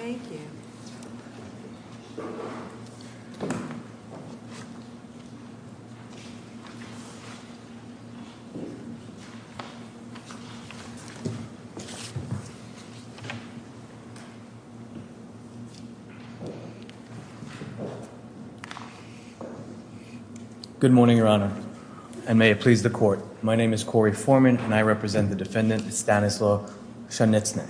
Thank you. Good morning, Your Honor, and may it please the Court. My name is Corey Foreman, and I represent the defendant, Stanislaw Pszeniczny.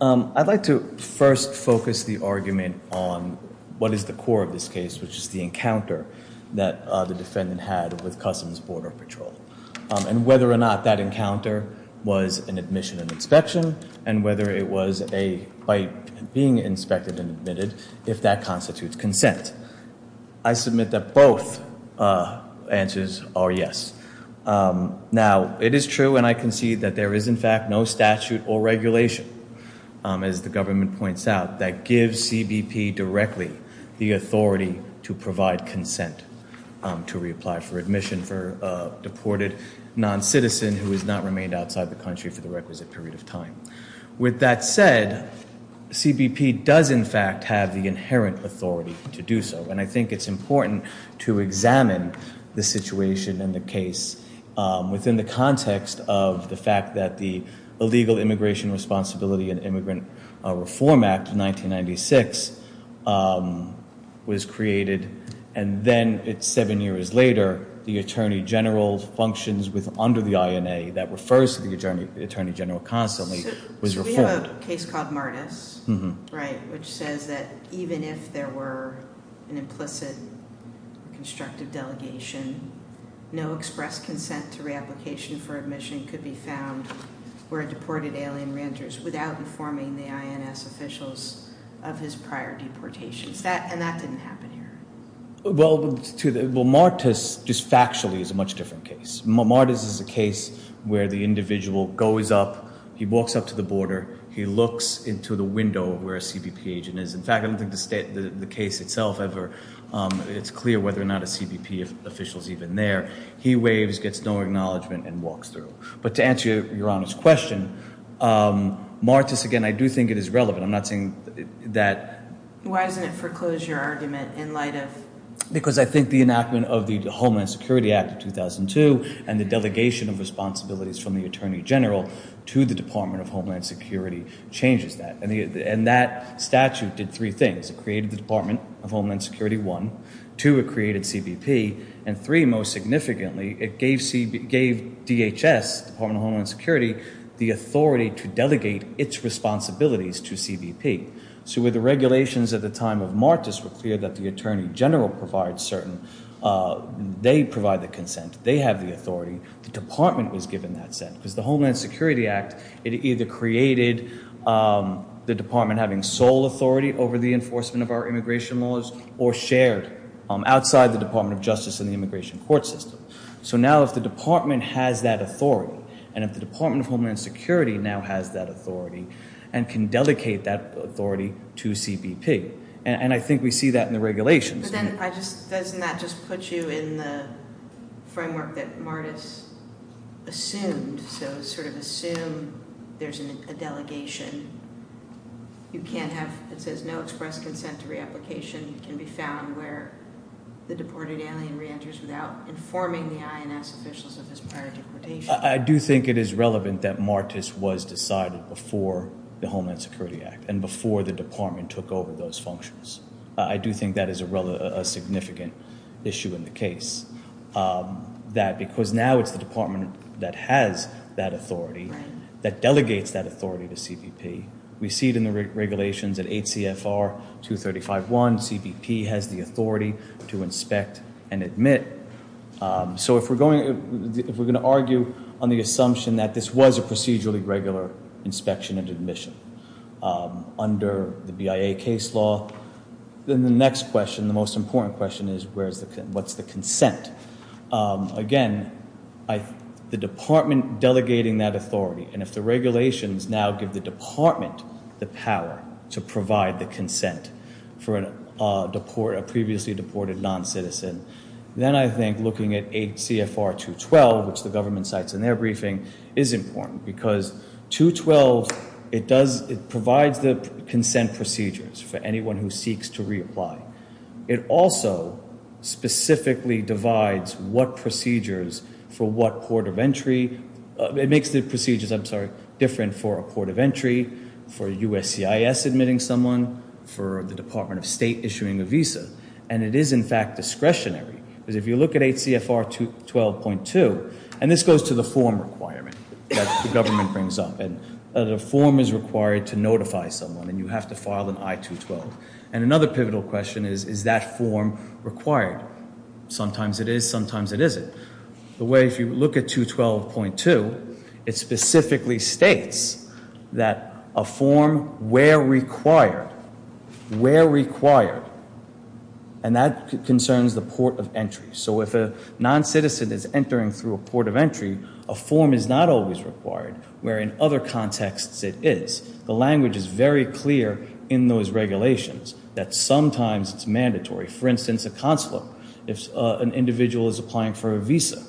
I'd like to first focus the argument on what is the core of this case, which is the encounter that the defendant had with Customs Border Patrol. And whether or not that encounter was an admission and inspection, and whether it was a bite being inspected and admitted, if that constitutes consent. I submit that both answers are yes. Now, it is true, and I concede, that there is in fact no statute or regulation, as the government points out, that gives CBP directly the authority to provide consent to reapply for admission for a deported non-citizen who has not remained outside the country for the requisite period of time. With that said, CBP does in fact have the inherent authority to do so, and I think it's important to examine the situation in the case within the context of the fact that the Illegal Immigration Responsibility and Immigrant Reform Act of 1996 was created, and then seven years later, the Attorney General functions under the INA that refers to the Attorney General constantly, was reformed. So we have a case called Martis, right, which says that even if there were an implicit constructive delegation, no express consent to reapplication for admission could be found where a deported alien reenters without informing the INS officials of his prior deportations. And that didn't happen here. Well, Martis, just factually, is a much different case. Martis is a case where the individual goes up, he walks up to the border, he looks into the window where a CBP agent is. In fact, I don't think the case itself ever, it's clear whether or not a CBP official is even there. He waves, gets no acknowledgement, and walks through. But to answer Your Honor's question, Martis, again, I do think it is relevant. I'm not saying that... Why isn't it foreclosure argument in light of... Because I think the enactment of the Homeland Security Act of 2002 and the delegation of responsibilities from the Attorney General to the Department of Homeland Security changes that. And that statute did three things. It created the Department of Homeland Security, one. Two, it created CBP. And three, most significantly, it gave DHS, Department of Homeland Security, the authority to delegate its responsibilities to CBP. So with the regulations at the time of Martis were clear that the Attorney General provides certain... They provide the consent. They have the authority. The Department was given that sense. Because the Homeland Security Act, it either created the Department having sole authority over the enforcement of our immigration laws, or shared outside the Department of Justice and the immigration court system. So now if the Department has that authority, and if the Department of Homeland Security now has that authority and can delegate that authority to CBP, and I think we see that in the regulations... But then doesn't that just put you in the framework that Martis assumed? So sort of assume there's a delegation. You can't have... It says no express consent to reapplication can be found where the deported alien reenters without informing the INS officials of his prior deportation. I do think it is relevant that Martis was decided before the Homeland Security Act and before the Department took over those functions. I do think that is a significant issue in the case. That because now it's the Department that has that authority, that delegates that authority to CBP. We see it in the regulations at 8 CFR 235.1, CBP has the authority to inspect and admit. So if we're going to argue on the assumption that this was a procedurally regular inspection and admission under the BIA case law, then the next question, the most important question, is what's the consent? Again, the Department delegating that authority, and if the regulations now give the Department the power to provide the consent for a previously deported non-citizen, then I think looking at 8 CFR 212, which the government cites in their briefing, is important. Because 212, it provides the consent procedures for anyone who seeks to reapply. It also specifically divides what procedures for what port of entry. It makes the procedures, I'm sorry, different for a port of entry, for USCIS admitting someone, for the Department of State issuing a visa. And it is, in fact, discretionary. Because if you look at 8 CFR 212.2, and this goes to the form requirement that the government brings up. The form is required to notify someone, and you have to file an I-212. And another pivotal question is, is that form required? Sometimes it is, sometimes it isn't. The way if you look at 212.2, it specifically states that a form where required, where required. And that concerns the port of entry. So if a non-citizen is entering through a port of entry, a form is not always required. Where in other contexts it is. The language is very clear in those regulations, that sometimes it's mandatory. For instance, a consulate. If an individual is applying for a visa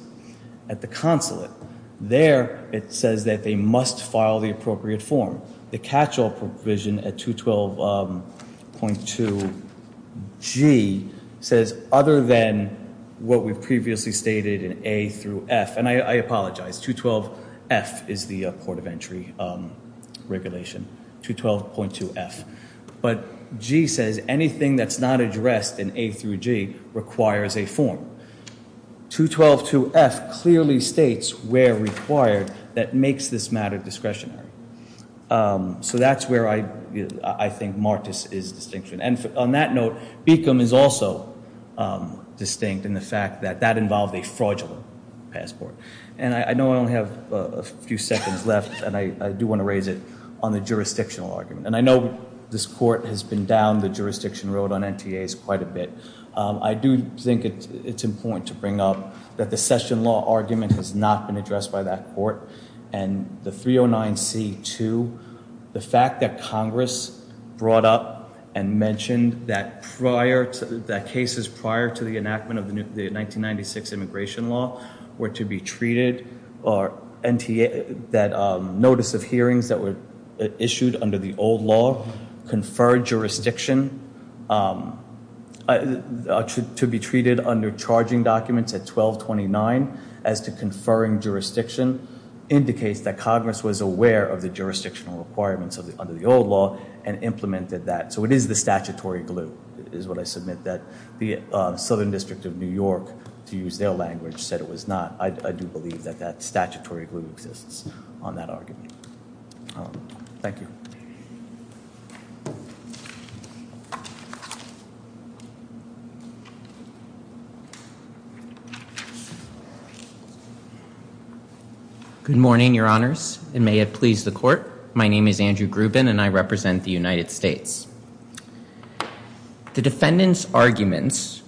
at the consulate, there it says that they must file the appropriate form. The catch-all provision at 212.2G says, other than what we've previously stated in A through F. And I apologize, 212F is the port of entry regulation, 212.2F. But G says anything that's not addressed in A through G requires a form. 212.2F clearly states where required that makes this matter discretionary. So that's where I think Martis is distinction. And on that note, Beacom is also distinct in the fact that that involved a fraudulent passport. And I know I only have a few seconds left, and I do want to raise it on the jurisdictional argument. And I know this court has been down the jurisdiction road on NTAs quite a bit. I do think it's important to bring up that the session law argument has not been addressed by that court. And the 309C-2, the fact that Congress brought up and mentioned that prior, that cases prior to the enactment of the 1996 immigration law were to be treated, or NTA, that notice of hearings that were issued under the old law, conferred jurisdiction to be treated under charging documents at 1229 as to conferring jurisdiction, indicates that Congress was aware of the jurisdictional requirements under the old law and implemented that. So it is the statutory glue is what I submit that the Southern District of New York, to use their language, said it was not. I do believe that that statutory glue exists on that argument. Thank you. Good morning, Your Honors, and may it please the court. My name is Andrew Grubin, and I represent the United States. The defendant's arguments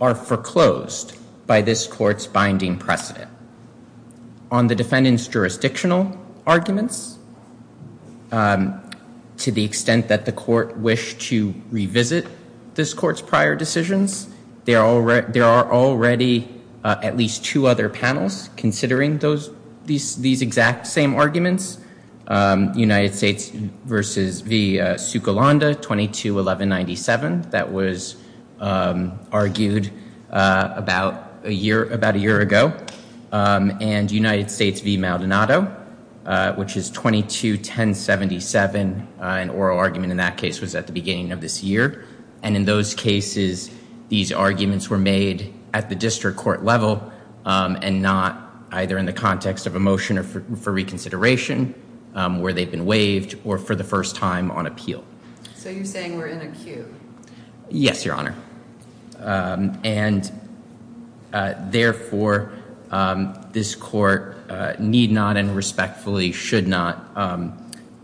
are foreclosed by this court's binding precedent. On the defendant's jurisdictional arguments, to the extent that the court wished to revisit this court's prior decisions, there are already at least two other panels considering these exact same arguments, United States v. Sukulanda, 22-1197. That was argued about a year ago. And United States v. Maldonado, which is 22-1077. An oral argument in that case was at the beginning of this year. And in those cases, these arguments were made at the district court level, and not either in the context of a motion for reconsideration, where they've been waived, or for the first time on appeal. So you're saying we're in a queue? Yes, Your Honor. And therefore, this court need not and respectfully should not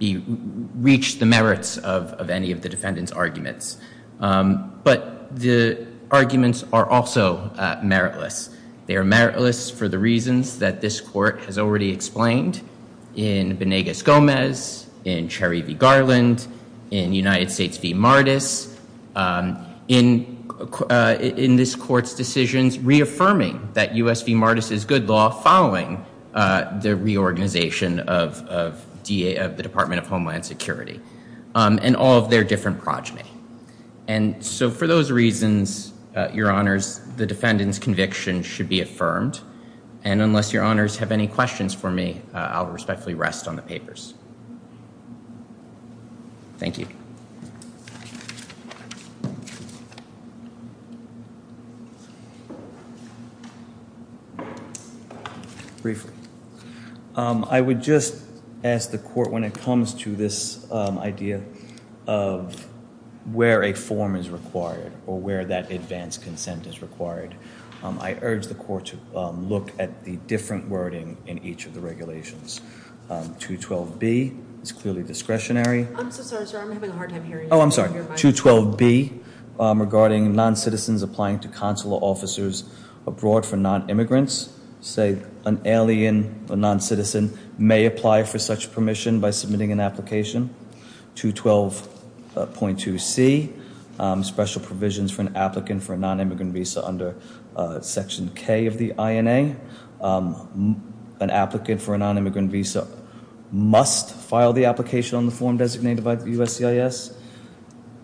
reach the merits of any of the defendant's arguments. But the arguments are also meritless. They are meritless for the reasons that this court has already explained in Benegas-Gomez, in Cherry v. Garland, in United States v. Martis, in this court's decisions reaffirming that U.S. v. Martis is good law following the reorganization of the Department of Homeland Security, and all of their different progeny. And so for those reasons, Your Honors, the defendant's conviction should be affirmed. And unless Your Honors have any questions for me, I'll respectfully rest on the papers. Thank you. Briefly, I would just ask the court when it comes to this idea of where a form is required, or where that advance consent is required, I urge the court to look at the different wording in each of the regulations. 212B is clearly discretionary. I'm so sorry, sir. I'm having a hard time hearing you. 212B, regarding non-citizens applying to consular officers abroad for non-immigrants, say an alien or non-citizen may apply for such permission by submitting an application. 212.2C, special provisions for an applicant for a non-immigrant visa under Section K of the INA. An applicant for a non-immigrant visa must file the application on the form designated by the USCIS.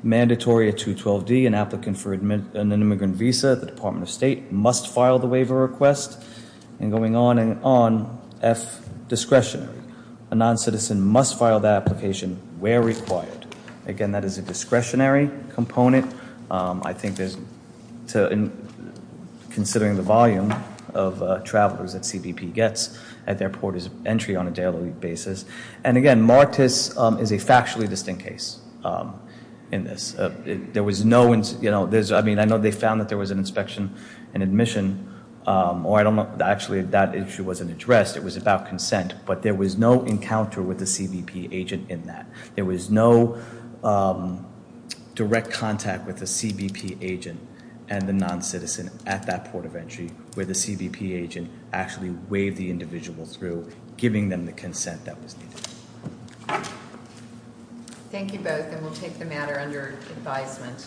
Mandatory at 212D, an applicant for an immigrant visa at the Department of State must file the waiver request. And going on and on, F, discretionary. A non-citizen must file that application where required. Again, that is a discretionary component. I think there's, considering the volume of travelers that CBP gets at their port of entry on a daily basis. And again, Martis is a factually distinct case in this. There was no, you know, there's, I mean, I know they found that there was an inspection and admission, or I don't know, actually that issue wasn't addressed. It was about consent, but there was no encounter with the CBP agent in that. There was no direct contact with the CBP agent and the non-citizen at that port of entry where the CBP agent actually waved the individual through, giving them the consent that was needed. Thank you both, and we'll take the matter under advisement.